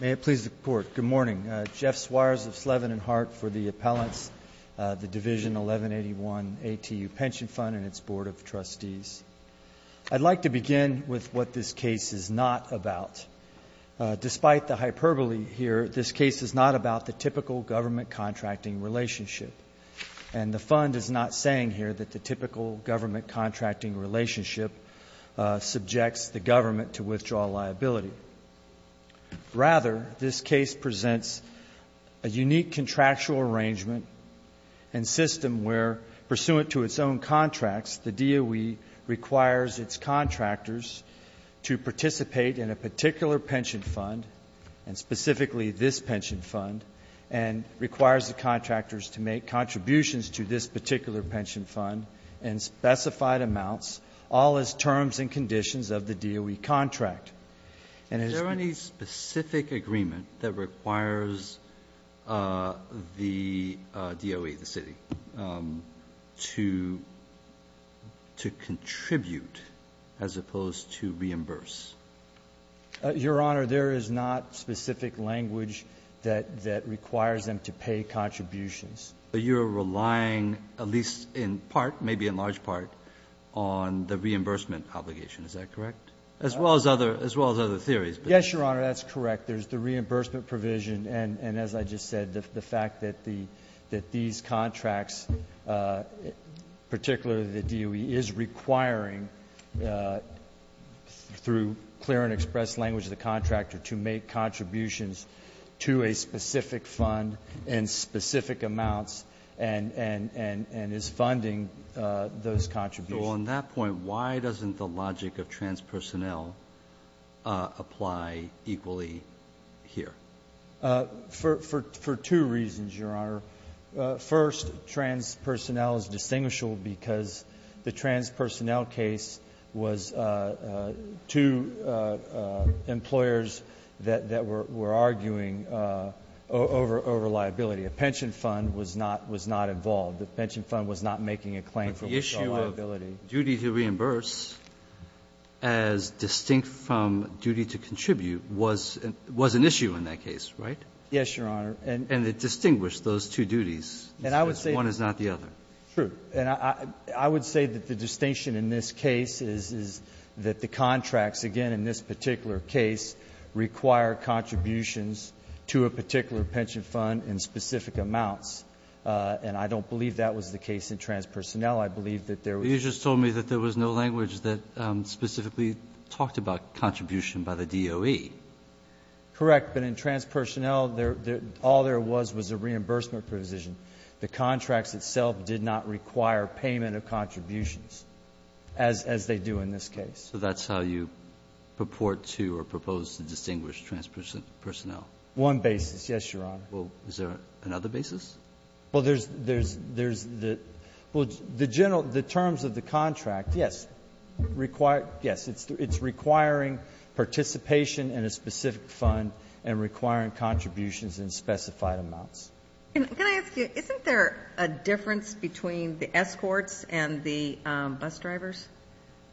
May it please the Court, good morning. Jeff Suarez of Slevin and Hart for the Appellants, the Division 1181 ATU Pension Fund and its Board of Trustees. I'd like to begin with what this case is not about. Despite the hyperbole here, this case is not about the typical government contracting relationship, and the fund is not saying here that the typical government contracting relationship subjects the government to withdraw liability. Rather, this case presents a unique contractual arrangement and system where, pursuant to its own contracts, the DOE requires its contractors to participate in a particular pension fund, and specifically this pension fund, and requires the contractors to make contributions to this particular pension fund in specified amounts, all as terms and conditions of the DOE contract. Is there any specific agreement that requires the DOE, the city, to contribute as opposed to reimburse? Your Honor, there is not specific language that requires them to pay contributions. But you're relying, at least in part, maybe in large part, on the reimbursement obligation. Is that correct? As well as other theories. Yes, Your Honor, that's correct. There's the reimbursement provision and, as I just said, the fact that these contracts, particularly the DOE, is requiring through clear and expressed language of the contractor to make contributions to a specific fund in specific amounts and is funding those contributions. So on that point, why doesn't the logic of transpersonnel apply equally here? For two reasons, Your Honor. First, transpersonnel is distinguishable because the transpersonnel case was two employers that were arguing over liability. A pension fund was not involved. The pension fund was not making a claim for liability. But the issue of duty to reimburse as distinct from duty to contribute was an issue in that case, right? Yes, Your Honor. And it distinguished those two duties. And I would say one is not the other. And I would say that the distinction in this case is that the contracts, again, in this particular case, require contributions to a particular pension fund in specific amounts. And I don't believe that was the case in transpersonnel. I believe that there was no language that specifically talked about contribution by the DOE. Correct. But in transpersonnel, all there was was a reimbursement provision. The contracts itself did not require payment of contributions as they do in this case. So that's how you purport to or propose to distinguish transpersonnel? One basis, yes, Your Honor. Well, is there another basis? Well, there's the general terms of the contract. Yes, it's requiring participation in a specific fund and requiring contributions in specified amounts. Can I ask you, isn't there a difference between the escorts and the bus drivers?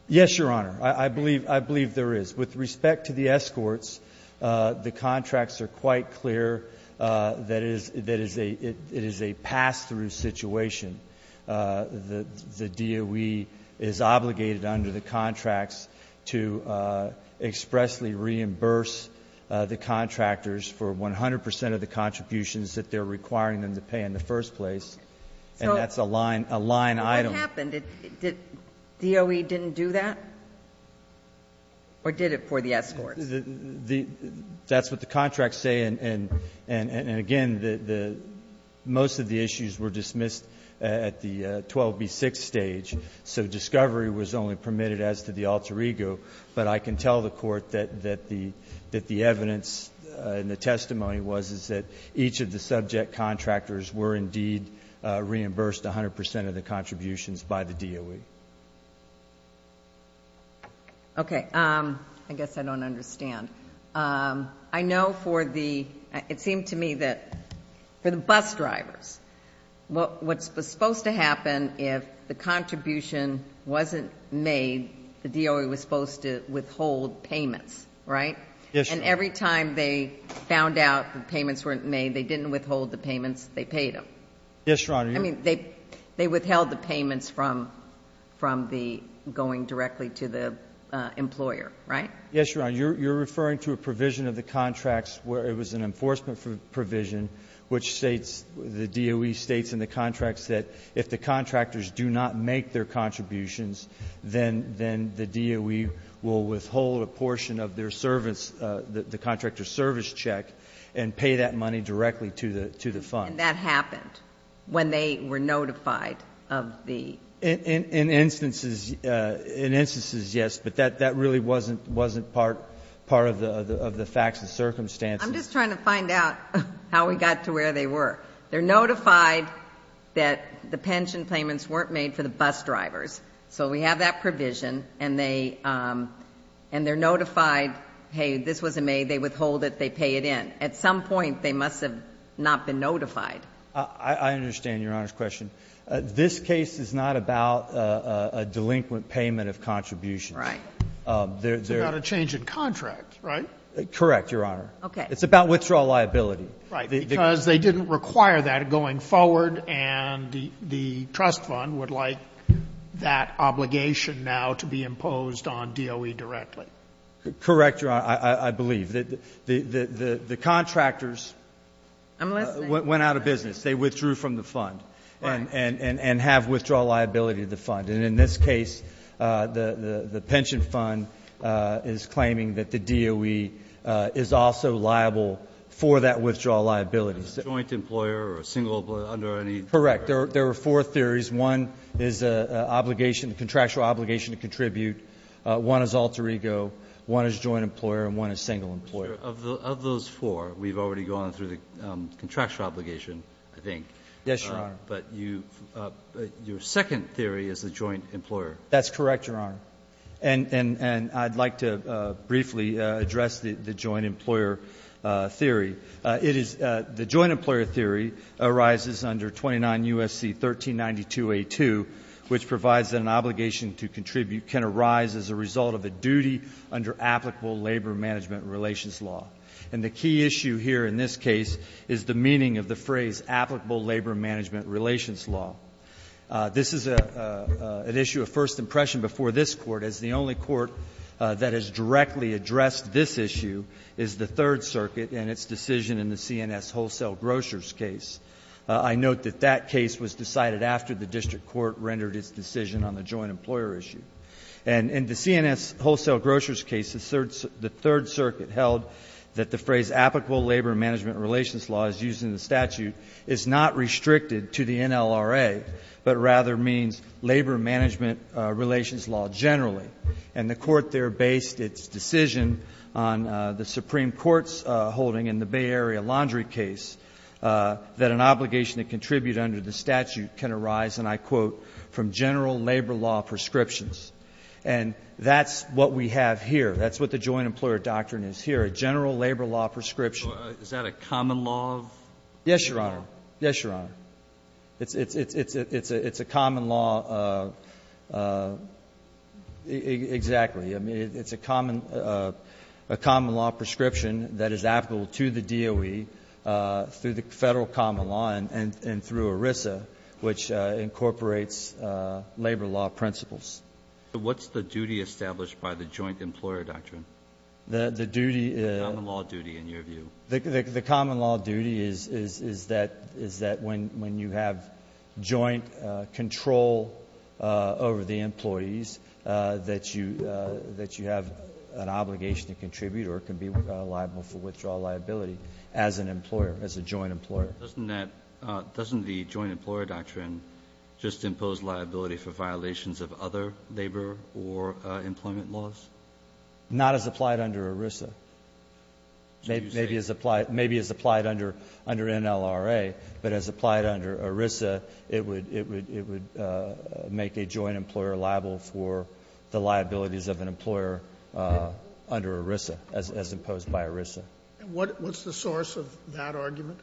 Yes, Your Honor. I believe there is. With respect to the escorts, the contracts are quite clear that it is a pass-through situation. The DOE is obligated under the contracts to expressly reimburse the contractors for 100 percent of the contributions that they're requiring them to pay in the first place, and that's a line item. What happened? Did DOE didn't do that? Or did it for the escorts? That's what the contracts say. And again, most of the issues were dismissed at the 12B6 stage, so discovery was only permitted as to the alter ego. But I can tell the Court that the evidence and the testimony was, is that each of the Okay. I guess I don't understand. I know for the, it seemed to me that for the bus drivers, what's supposed to happen if the contribution wasn't made, the DOE was supposed to withhold payments, right? Yes, Your Honor. And every time they found out the payments weren't made, they didn't withhold the payments, they paid them. Yes, Your Honor. I mean, they withheld the payments from the going directly to the employer, right? Yes, Your Honor. You're referring to a provision of the contracts where it was an enforcement provision which states, the DOE states in the contracts that if the contractors do not make their contributions, then the DOE will withhold a portion of their service, the contractor's service check, and pay that money directly to the fund. Yes, Your Honor. And that happened when they were notified of the In instances, yes, but that really wasn't part of the facts and circumstances. I'm just trying to find out how we got to where they were. They're notified that the pension payments weren't made for the bus drivers. So we have that provision, and they're notified, hey, this wasn't made, they withhold it, they pay it in. At some point, they must have not been notified. I understand Your Honor's question. This case is not about a delinquent payment of contributions. Right. It's about a change in contract, right? Correct, Your Honor. Okay. It's about withdrawal liability. Right, because they didn't require that going forward, and the trust fund would like that obligation now to be imposed on DOE directly. Correct, Your Honor, I believe. The contractors went out of business. I'm listening. They withdrew from the fund and have withdrawal liability of the fund. And in this case, the pension fund is claiming that the DOE is also liable for that withdrawal liability. Is it a joint employer or a single employer under any? Correct. There are four theories. One is a contractual obligation to contribute. One is alter ego. One is joint employer. And one is single employer. Of those four, we've already gone through the contractual obligation, I think. Yes, Your Honor. But your second theory is the joint employer. That's correct, Your Honor. And I'd like to briefly address the joint employer theory. It is the joint employer theory arises under 29 U.S.C. 1392a2, which provides that an obligation to contribute can arise as a result of a duty under applicable labor management relations law. And the key issue here in this case is the meaning of the phrase applicable labor management relations law. This is an issue of first impression before this Court, as the only court that has directly addressed this issue is the Third Circuit and its decision in the CNS Wholesale Grocers case. I note that that case was decided after the district court rendered its decision on the joint employer issue. And in the CNS Wholesale Grocers case, the Third Circuit held that the phrase applicable labor management relations law, as used in the statute, is not restricted to the NLRA, but rather means labor management relations law generally. And the Court there based its decision on the Supreme Court's holding in the Bay Area Laundry case that an obligation to contribute under the statute can arise, and I quote, from general labor law prescriptions. And that's what we have here. That's what the joint employer doctrine is here, a general labor law prescription. Breyer. Is that a common law? Yes, Your Honor. Yes, Your Honor. It's a common law. Exactly. I mean, it's a common law prescription that is applicable to the DOE through the Federal Common Law and through ERISA, which incorporates labor law principles. What's the duty established by the joint employer doctrine? The duty is the common law duty is that when you have joint control of labor law, over the employees, that you have an obligation to contribute or it can be liable for withdrawal liability as an employer, as a joint employer. Doesn't that the joint employer doctrine just impose liability for violations of other labor or employment laws? Not as applied under ERISA. Maybe as applied under NLRA, but as applied under ERISA, it would, it would, it would make a joint employer liable for the liabilities of an employer under ERISA, as imposed by ERISA. And what's the source of that argument?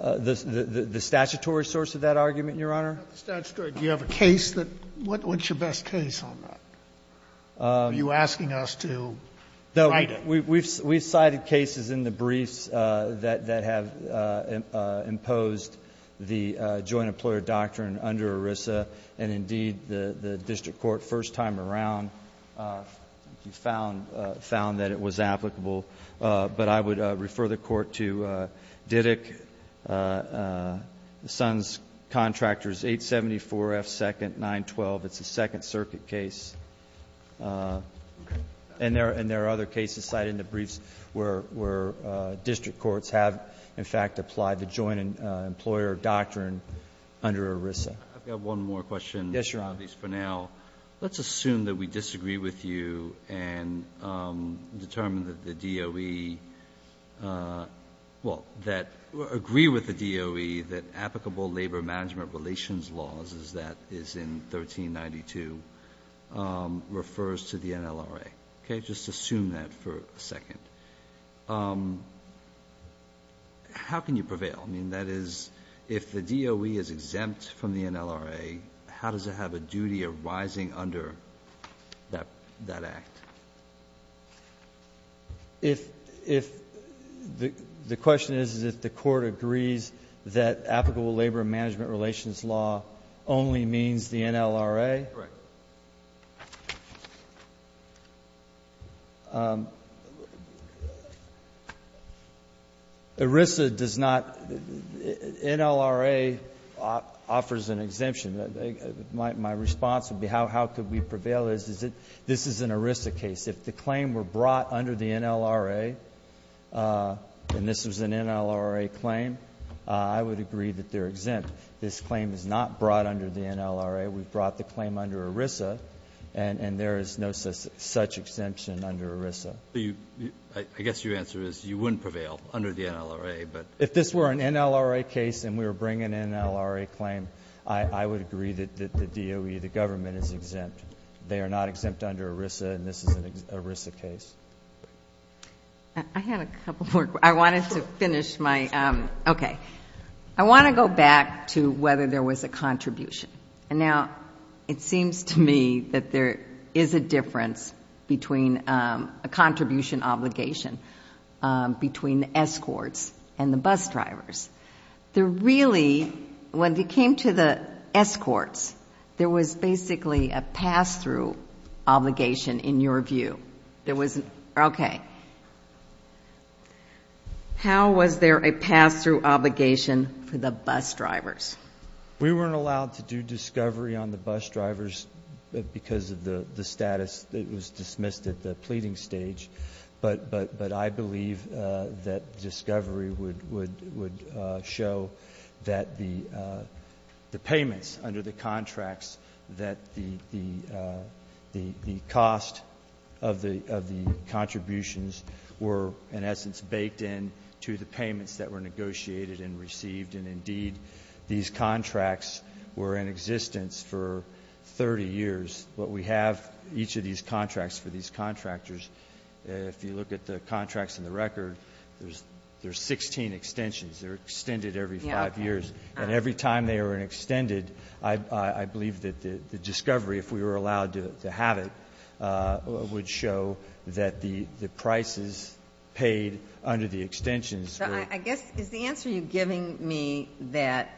The statutory source of that argument, Your Honor. Statutory. Do you have a case that what's your best case on that? Are you asking us to cite it? We've cited cases in the briefs that have imposed the joint employer doctrine under ERISA, and indeed, the district court first time around found that it was applicable. But I would refer the Court to Diddick, the son's contractors, 874 F. 2nd, 912. It's a Second Circuit case. And there are other cases cited in the briefs where district courts have, in fact, applied the joint employer doctrine under ERISA. I've got one more question. Yes, Your Honor. Please, for now. Let's assume that we disagree with you and determine that the DOE, well, that agree with the DOE that applicable labor management relations laws, as that is in 1392, refers to the NLRA. Okay? Just assume that for a second. How can you prevail? I mean, that is, if the DOE is exempt from the NLRA, how does it have a duty arising under that act? If the question is, is if the Court agrees that applicable labor management relations law only means the NLRA? Correct. ERISA does not – NLRA offers an exemption. My response would be, how could we prevail? This is an ERISA case. If the claim were brought under the NLRA, and this was an NLRA claim, I would agree that they're exempt. This claim is not brought under the NLRA. We've brought the claim under ERISA, and there is no such exemption under ERISA. I guess your answer is you wouldn't prevail under the NLRA, but – If this were an NLRA case and we were bringing an NLRA claim, I would agree that the DOE, the government, is exempt. They are not exempt under ERISA, and this is an ERISA case. I had a couple more. I wanted to finish my – okay. I want to go back to whether there was a contribution. Now, it seems to me that there is a difference between a contribution obligation between the escorts and the bus drivers. There really – when it came to the escorts, there was basically a pass-through obligation, in your view. There was – okay. How was there a pass-through obligation for the bus drivers? We weren't allowed to do discovery on the bus drivers because of the status. It was dismissed at the pleading stage. But I believe that discovery would show that the payments under the contracts, that the cost of the contributions were, in essence, baked in to the payments that were negotiated and received. And indeed, these contracts were in existence for 30 years. But we have each of these contracts for these contractors. If you look at the contracts in the record, there's 16 extensions. They're extended every five years. And every time they are extended, I believe that the discovery, if we were allowed to have it, would show that the prices paid under the extensions were – I guess, is the answer you're giving me that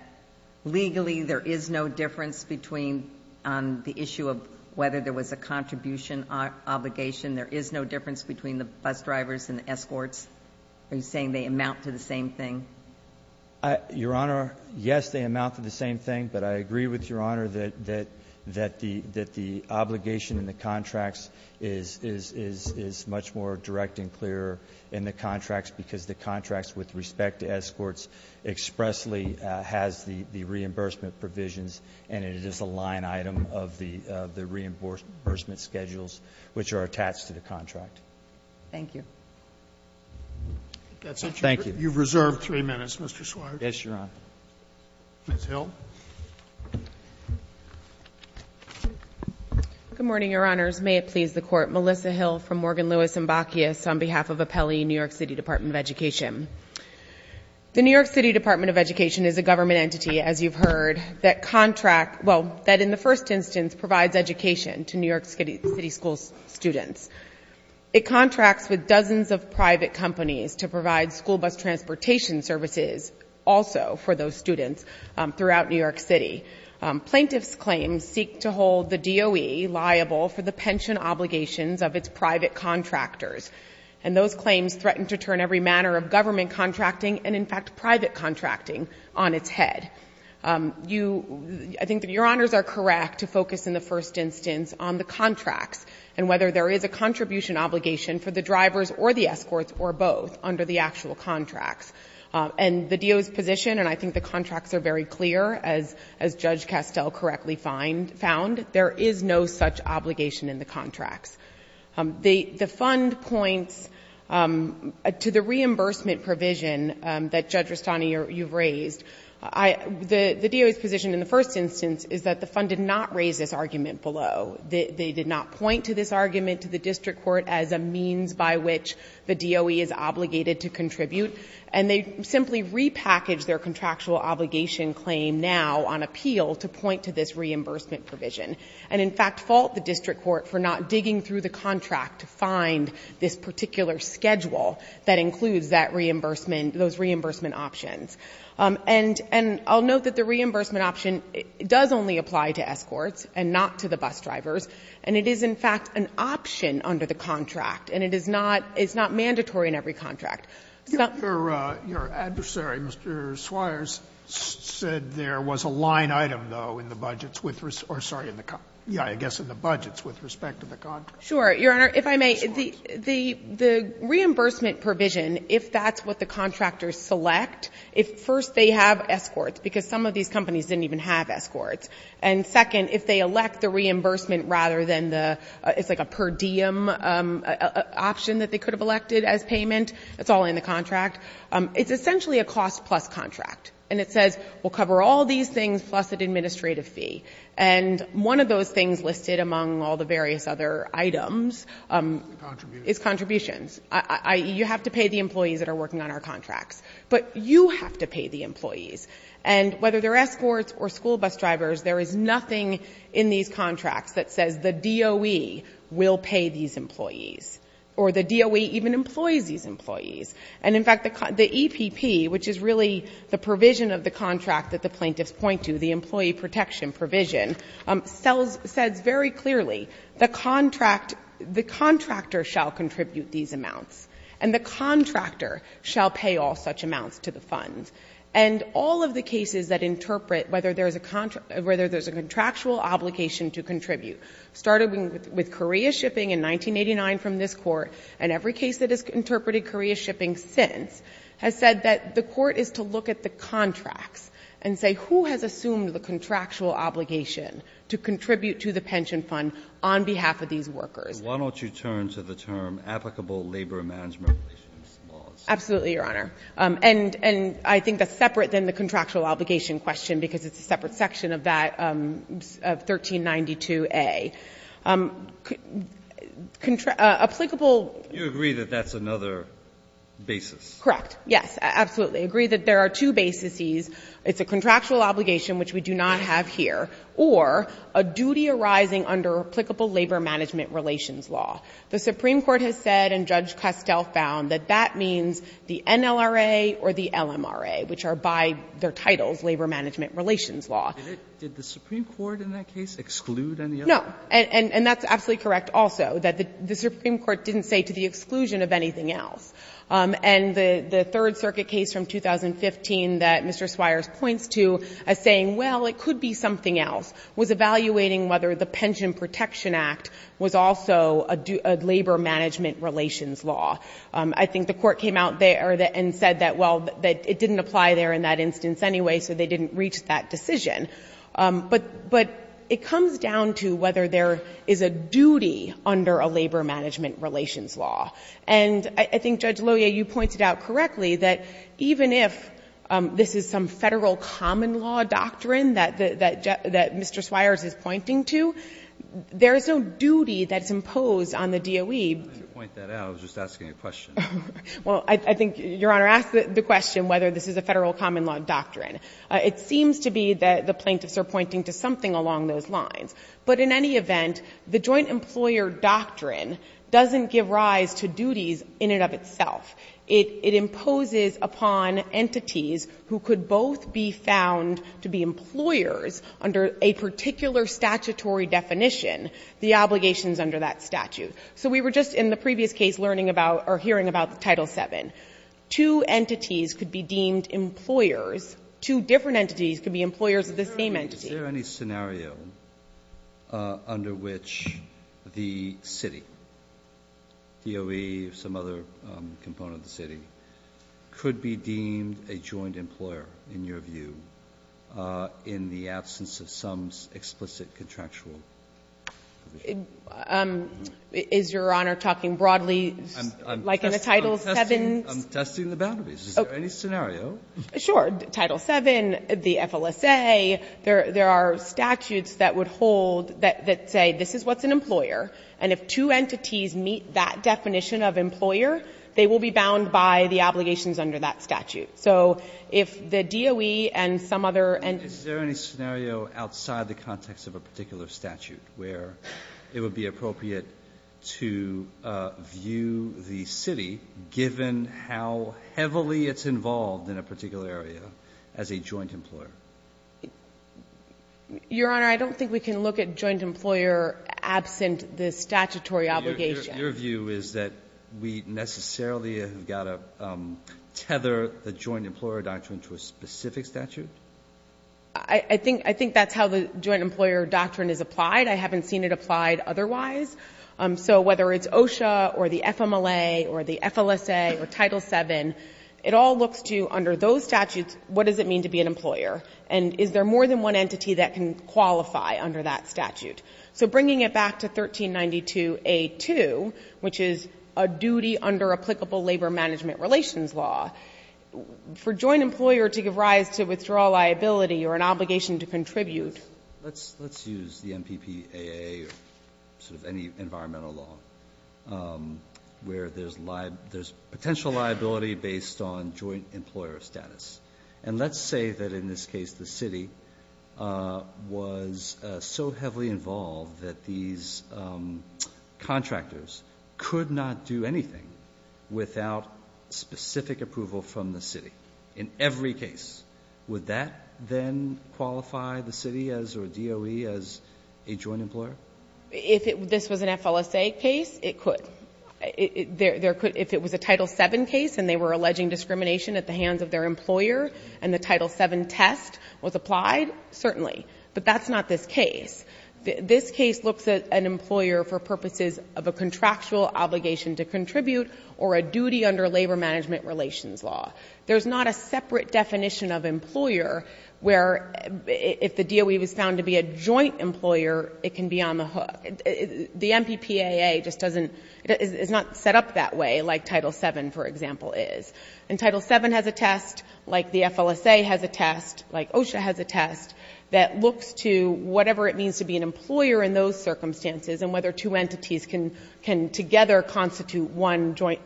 legally there is no difference between the issue of whether there was a contribution obligation? There is no difference between the bus drivers and the escorts? Are you saying they amount to the same thing? Your Honor, yes, they amount to the same thing. But I agree with Your Honor that the obligation in the contracts is much more direct and clear in the contracts because the contracts with respect to escorts expressly has the reimbursement provisions, and it is a line item of the reimbursement schedules which are attached to the contract. Thank you. Thank you. You've reserved three minutes, Mr. Swartz. Yes, Your Honor. Ms. Hill. Good morning, Your Honors. May it please the Court, Melissa Hill from Morgan Lewis & Bacchius on behalf of Apelli New York City Department of Education. The New York City Department of Education is a government entity, as you've heard, that contract – well, that in the first instance provides education to New York City school students. It contracts with dozens of private companies to provide school bus transportation services also for those students throughout New York City. Plaintiffs' claims seek to hold the DOE liable for the pension obligations of its private contractors, and those claims threaten to turn every manner of government contracting and, in fact, private contracting on its head. You – I think that Your Honors are correct to focus in the first instance on the contracts and whether there is a contribution obligation for the drivers or the escorts or both under the actual contracts. And the DOE's position, and I think the contracts are very clear, as Judge Castell correctly found, there is no such obligation in the contracts. The fund points to the reimbursement provision that, Judge Rastani, you've raised. The DOE's position in the first instance is that the fund did not raise this argument below. They did not point to this argument to the district court as a means by which the DOE is obligated to contribute. And they simply repackaged their contractual obligation claim now on appeal to point to this reimbursement provision and, in fact, fault the district court for not digging through the contract to find this particular schedule that includes that reimbursement – those reimbursement options. And I'll note that the reimbursement option does only apply to escorts and not to the bus drivers, and it is, in fact, an option under the contract, and it is not – it's not in every contract. Sotomayor, your adversary, Mr. Swires, said there was a line item, though, in the budgets with – or, sorry, in the – yeah, I guess in the budgets with respect to the contract. Sure. Your Honor, if I may, the reimbursement provision, if that's what the contractors select, if first they have escorts, because some of these companies didn't even have escorts, and second, if they elect the reimbursement rather than the – it's like a per diem option that they could have elected as payment, it's all in the contract. It's essentially a cost-plus contract, and it says we'll cover all these things plus an administrative fee. And one of those things listed among all the various other items is contributions, i.e., you have to pay the employees that are working on our contracts, but you have to pay the employees. And whether they're escorts or school bus drivers, there is nothing in these contracts that says the DOE will pay these employees or the DOE even employs these employees. And, in fact, the EPP, which is really the provision of the contract that the plaintiffs point to, the employee protection provision, sells – says very clearly the contract – the contractor shall contribute these amounts, and the contractor shall pay all such amounts to the fund. And all of the cases that interpret whether there's a contractual obligation to contribute started with Korea Shipping in 1989 from this Court, and every case that has interpreted Korea Shipping since has said that the Court is to look at the contracts and say, who has assumed the contractual obligation to contribute to the pension fund on behalf of these workers? Why don't you turn to the term applicable labor management relations laws? Absolutely, Your Honor. And I think that's separate than the contractual obligation question because it's a separate section of that – of 1392A. Applicable – You agree that that's another basis? Correct. Yes, absolutely. I agree that there are two basises. It's a contractual obligation, which we do not have here, or a duty arising under applicable labor management relations law. The Supreme Court has said, and Judge Castell found, that that means the NLRA or the Did the Supreme Court in that case exclude any other? No. And that's absolutely correct also, that the Supreme Court didn't say to the exclusion of anything else. And the Third Circuit case from 2015 that Mr. Swires points to as saying, well, it could be something else, was evaluating whether the Pension Protection Act was also a labor management relations law. I think the Court came out there and said that, well, it didn't apply there in that decision. But it comes down to whether there is a duty under a labor management relations law. And I think, Judge Loya, you pointed out correctly that even if this is some Federal common law doctrine that Mr. Swires is pointing to, there is no duty that's imposed on the DOE. I didn't point that out. I was just asking a question. Well, I think Your Honor asked the question whether this is a Federal common law doctrine. It seems to be that the plaintiffs are pointing to something along those lines. But in any event, the joint employer doctrine doesn't give rise to duties in and of itself. It imposes upon entities who could both be found to be employers under a particular statutory definition the obligations under that statute. So we were just in the previous case learning about or hearing about Title VII. Two entities could be deemed employers. Two different entities could be employers of the same entity. Is there any scenario under which the city, DOE or some other component of the city, could be deemed a joint employer, in your view, in the absence of some explicit contractual provision? Is Your Honor talking broadly, like in the Title VII? I'm testing the boundaries. Is there any scenario? Sure. Title VII, the FLSA, there are statutes that would hold that say this is what's an employer. And if two entities meet that definition of employer, they will be bound by the obligations under that statute. So if the DOE and some other entity. Is there any scenario outside the context of a particular statute where it would be appropriate to view the city, given how heavily it's involved in a particular area, as a joint employer? Your Honor, I don't think we can look at joint employer absent the statutory obligation. Your view is that we necessarily have got to tether the joint employer doctrine to a specific statute? I think that's how the joint employer doctrine is applied. I haven't seen it applied otherwise. So whether it's OSHA or the FMLA or the FLSA or Title VII, it all looks to, under those statutes, what does it mean to be an employer? And is there more than one entity that can qualify under that statute? So bringing it back to 1392a2, which is a duty under applicable labor management relations law, for joint employer to give rise to withdrawal liability or an obligation to contribute. Let's use the MPPAA or sort of any environmental law where there's potential liability based on joint employer status. And let's say that in this case, the city was so heavily involved that these contractors could not do anything without specific approval from the city in every case. Would that then qualify the city as or DOE as a joint employer? If this was an FLSA case, it could. If it was a Title VII case and they were alleging discrimination at the hands of their employer and the Title VII test was applied, certainly. But that's not this case. This case looks at an employer for purposes of a contractual obligation to contribute or a duty under labor management relations law. There's not a separate definition of employer where if the DOE was found to be a joint employer, it can be on the hook. The MPPAA just doesn't – it's not set up that way like Title VII, for example, is. And Title VII has a test like the FLSA has a test, like OSHA has a test, that looks to whatever it means to be an employer in those circumstances and whether two entities can together constitute one joint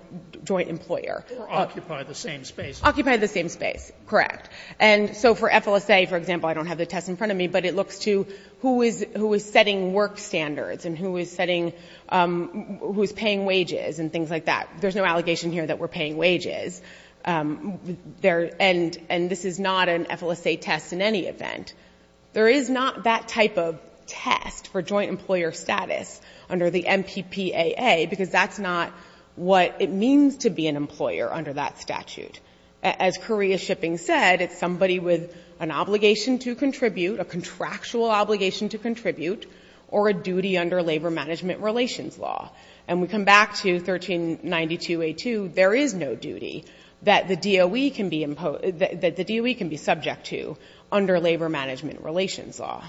employer. Or occupy the same space. Occupy the same space, correct. And so for FLSA, for example, I don't have the test in front of me, but it looks to who is setting work standards and who is setting – who is paying wages and things like that. There's no allegation here that we're paying wages. And this is not an FLSA test in any event. There is not that type of test for joint employer status under the MPPAA because that's not what it means to be an employer under that statute. As Korea Shipping said, it's somebody with an obligation to contribute, a contractual obligation to contribute, or a duty under labor management relations law. And we come back to 1392A2, there is no duty that the DOE can be subject to under labor management relations law.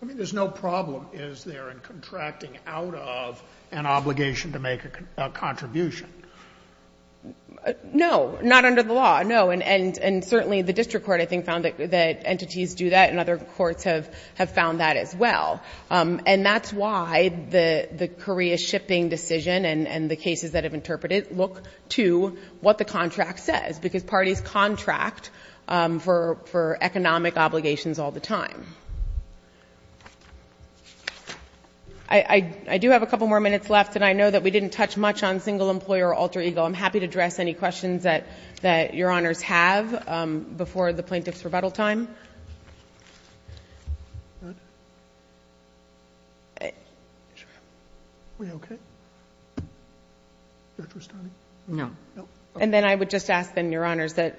I mean, there's no problem, is there, in contracting out of an obligation to make a contribution? No. Not under the law, no. And certainly the district court, I think, found that entities do that and other courts have found that as well. And that's why the Korea Shipping decision and the cases that have interpreted it look to what the contract says because parties contract for economic obligations all the time. I do have a couple more minutes left and I know that we didn't touch much on single employer alter ego. I'm happy to address any questions that your honors have before the plaintiff's rebuttal time. And then I would just ask then, your honors, that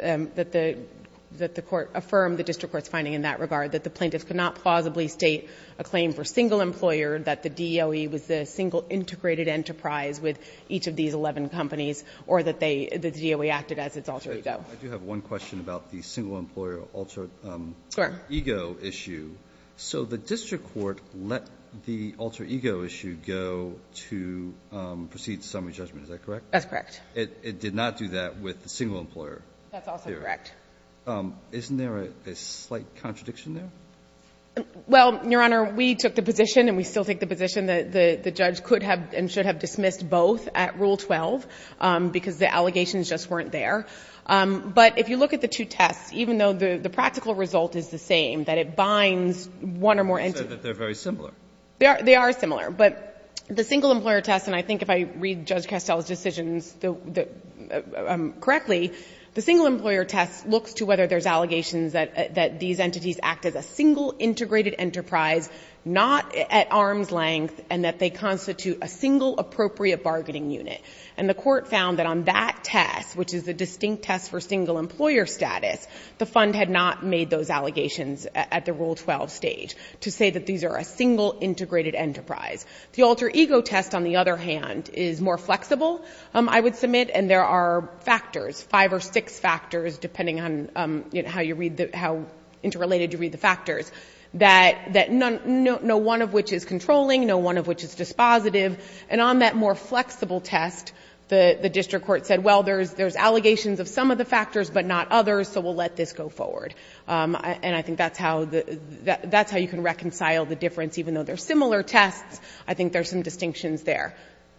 the court affirm the district court's finding in that regard, that the plaintiff cannot plausibly state a claim for single employer, that the DOE was the single integrated enterprise with each of these 11 companies, or that they, that the DOE acted as its alter ego. I do have one question about the single employer alter ego issue. So the district court let the alter ego issue go to proceed to summary judgment. Is that correct? That's correct. It did not do that with the single employer. That's also correct. Isn't there a slight contradiction there? Well, your honor, we took the position and we still take the position that the judge could have and should have dismissed both at rule 12 because the allegations just weren't there. But if you look at the two tests, even though the practical result is the same, that it binds one or more entities. You said that they're very similar. They are similar. But the single employer test, and I think if I read Judge Castell's decisions correctly, the single employer test looks to whether there's allegations that these entities act as a single integrated enterprise, not at arm's length, and that they constitute a single appropriate bargaining unit. And the court found that on that test, which is the distinct test for single employer status, the fund had not made those allegations at the rule 12 stage to say that these are a single integrated enterprise. The alter ego test, on the other hand, is more flexible. I would submit, and there are factors, five or six factors, depending on how you read the, how interrelated you read the factors, that none, no one of which is controlling, no one of which is dispositive. And on that more flexible test, the district court said, well, there's allegations of some of the factors, but not others, so we'll let this go forward. And I think that's how the, that's how you can reconcile the difference. Even though they're similar tests, I think there's some distinctions there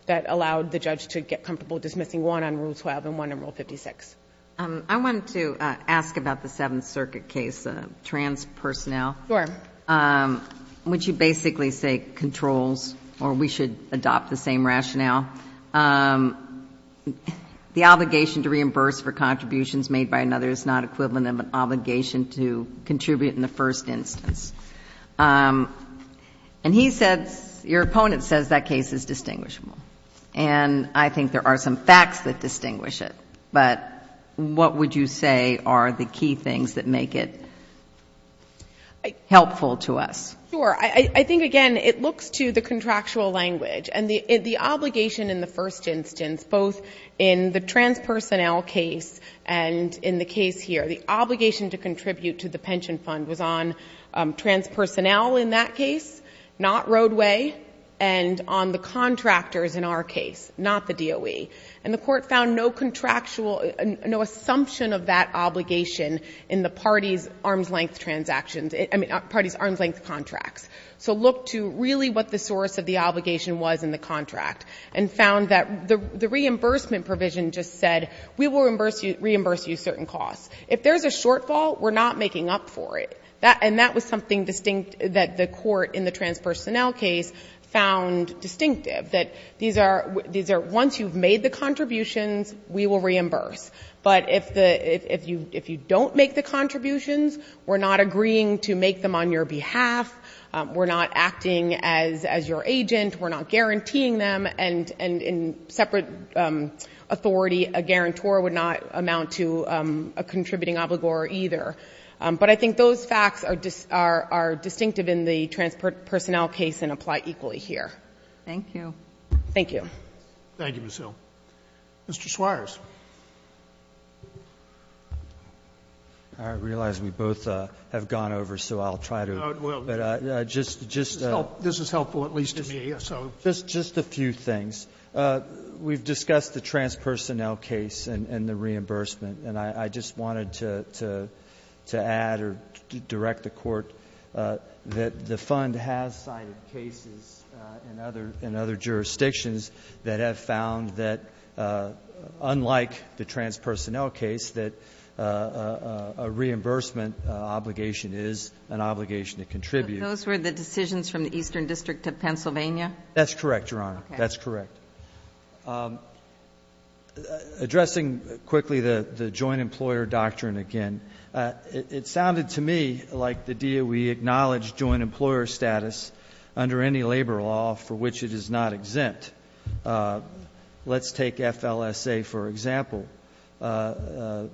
that allowed the judge to get comfortable dismissing one on rule 12 and one on rule 56. I wanted to ask about the Seventh Circuit case, trans-personnel. Sure. Which you basically say controls, or we should adopt the same rationale. The obligation to reimburse for contributions made by another is not equivalent of an obligation to contribute in the first instance. And he says, your opponent says that case is distinguishable. And I think there are some facts that distinguish it. But what would you say are the key things that make it helpful to us? Sure. I think, again, it looks to the contractual language. And the obligation in the first instance, both in the trans-personnel case and in the case here, the obligation to contribute to the pension fund was on trans-personnel in that case, not roadway, and on the contractors in our case, not the DOE. And the court found no contractual, no assumption of that obligation in the party's arm's-length transactions, I mean, party's arm's-length contracts. So look to really what the source of the obligation was in the contract, and found that the reimbursement provision just said, we will reimburse you certain costs. If there's a shortfall, we're not making up for it. And that was something distinct that the court in the trans-personnel case found distinctive, that once you've made the contributions, we will reimburse. But if you don't make the contributions, we're not agreeing to make them on your behalf. We're not acting as your agent. We're not guaranteeing them. And in separate authority, a guarantor would not amount to a contributing obligor either. But I think those facts are distinctive in the trans-personnel case and apply equally here. Thank you. Thank you. Thank you, Ms. Hill. Mr. Swires. I realize we both have gone over, so I'll try to. This is helpful, at least to me. Just a few things. We've discussed the trans-personnel case and the reimbursement, and I just wanted to add or direct the court that the fund has cited cases in other jurisdictions that have found that, unlike the trans-personnel case, that a reimbursement obligation is an obligation to contribute. Those were the decisions from the Eastern District of Pennsylvania? That's correct, Your Honor. That's correct. Addressing quickly the joint employer doctrine again, it sounded to me like the DOE acknowledged joint employer status under any labor law for which it is not exempt. Let's take FLSA for example. I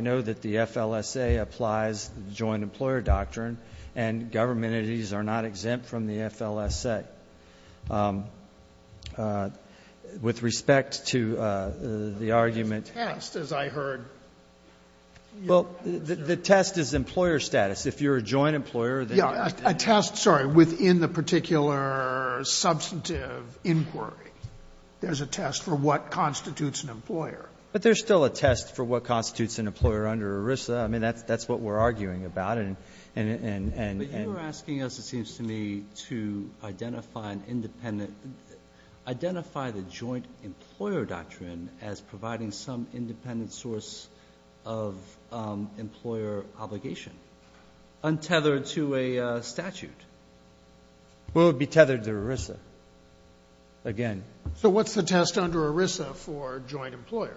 know that the FLSA applies the joint employer doctrine, and government entities are not exempt from the FLSA. With respect to the argument of the test, as I heard. Well, the test is employer status. If you're a joint employer, then you're exempt. A test, sorry, within the particular substantive inquiry. There's a test for what constitutes an employer. But there's still a test for what constitutes an employer under ERISA. I mean, that's what we're arguing about. But you're asking us, it seems to me, to identify an independent — identify the joint employer doctrine as providing some independent source of employer obligation, untethered to a statute. Well, it would be tethered to ERISA, again. So what's the test under ERISA for joint employer?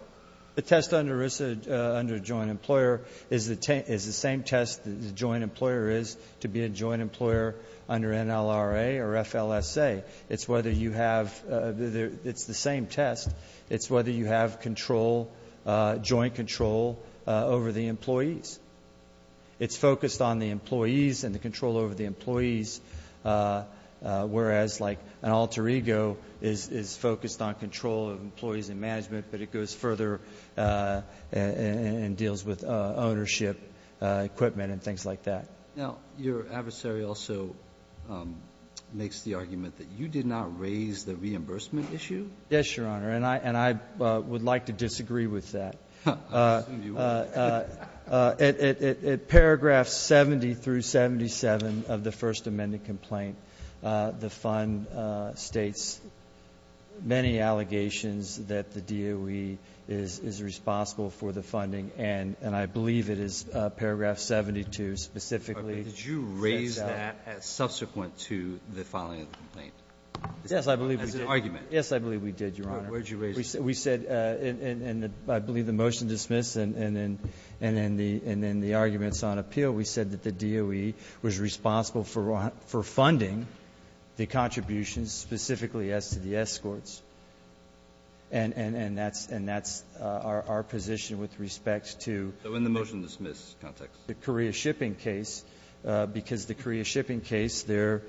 The test under ERISA, under joint employer, is the same test the joint employer is to be a joint employer under NLRA or FLSA. It's whether you have — it's the same test. It's whether you have control, joint control over the employees. It's focused on the employees and the control over the employees, whereas like an alter case, it's focused on the employees and management, but it goes further and deals with ownership, equipment, and things like that. Now, your adversary also makes the argument that you did not raise the reimbursement issue? Yes, Your Honor. And I would like to disagree with that. I assume you would. In paragraph 70 through 77 of the First Amendment complaint, the Fund states many of the allegations that the DOE is responsible for the funding, and I believe it is paragraph 72 specifically. Did you raise that as subsequent to the filing of the complaint? Yes, I believe we did. As an argument. Yes, I believe we did, Your Honor. All right. Where did you raise it? We said — and I believe the motion dismissed, and then the arguments on appeal, we said that the DOE was responsible for funding the contributions specifically as to the escorts, and that's our position with respect to — So in the motion dismiss context? — the Korea shipping case, because the Korea shipping case, there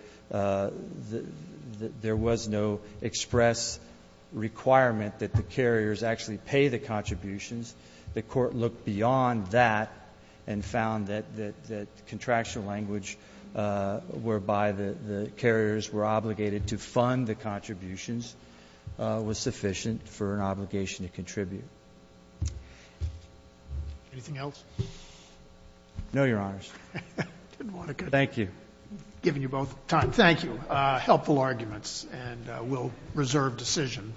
was no express requirement that the carriers actually pay the contributions. The Court looked beyond that and found that the contractual language whereby the carriers were obligated to fund the contributions was sufficient for an obligation to contribute. Anything else? No, Your Honors. Thank you. I've given you both time. Thank you. Helpful arguments, and we'll reserve decision.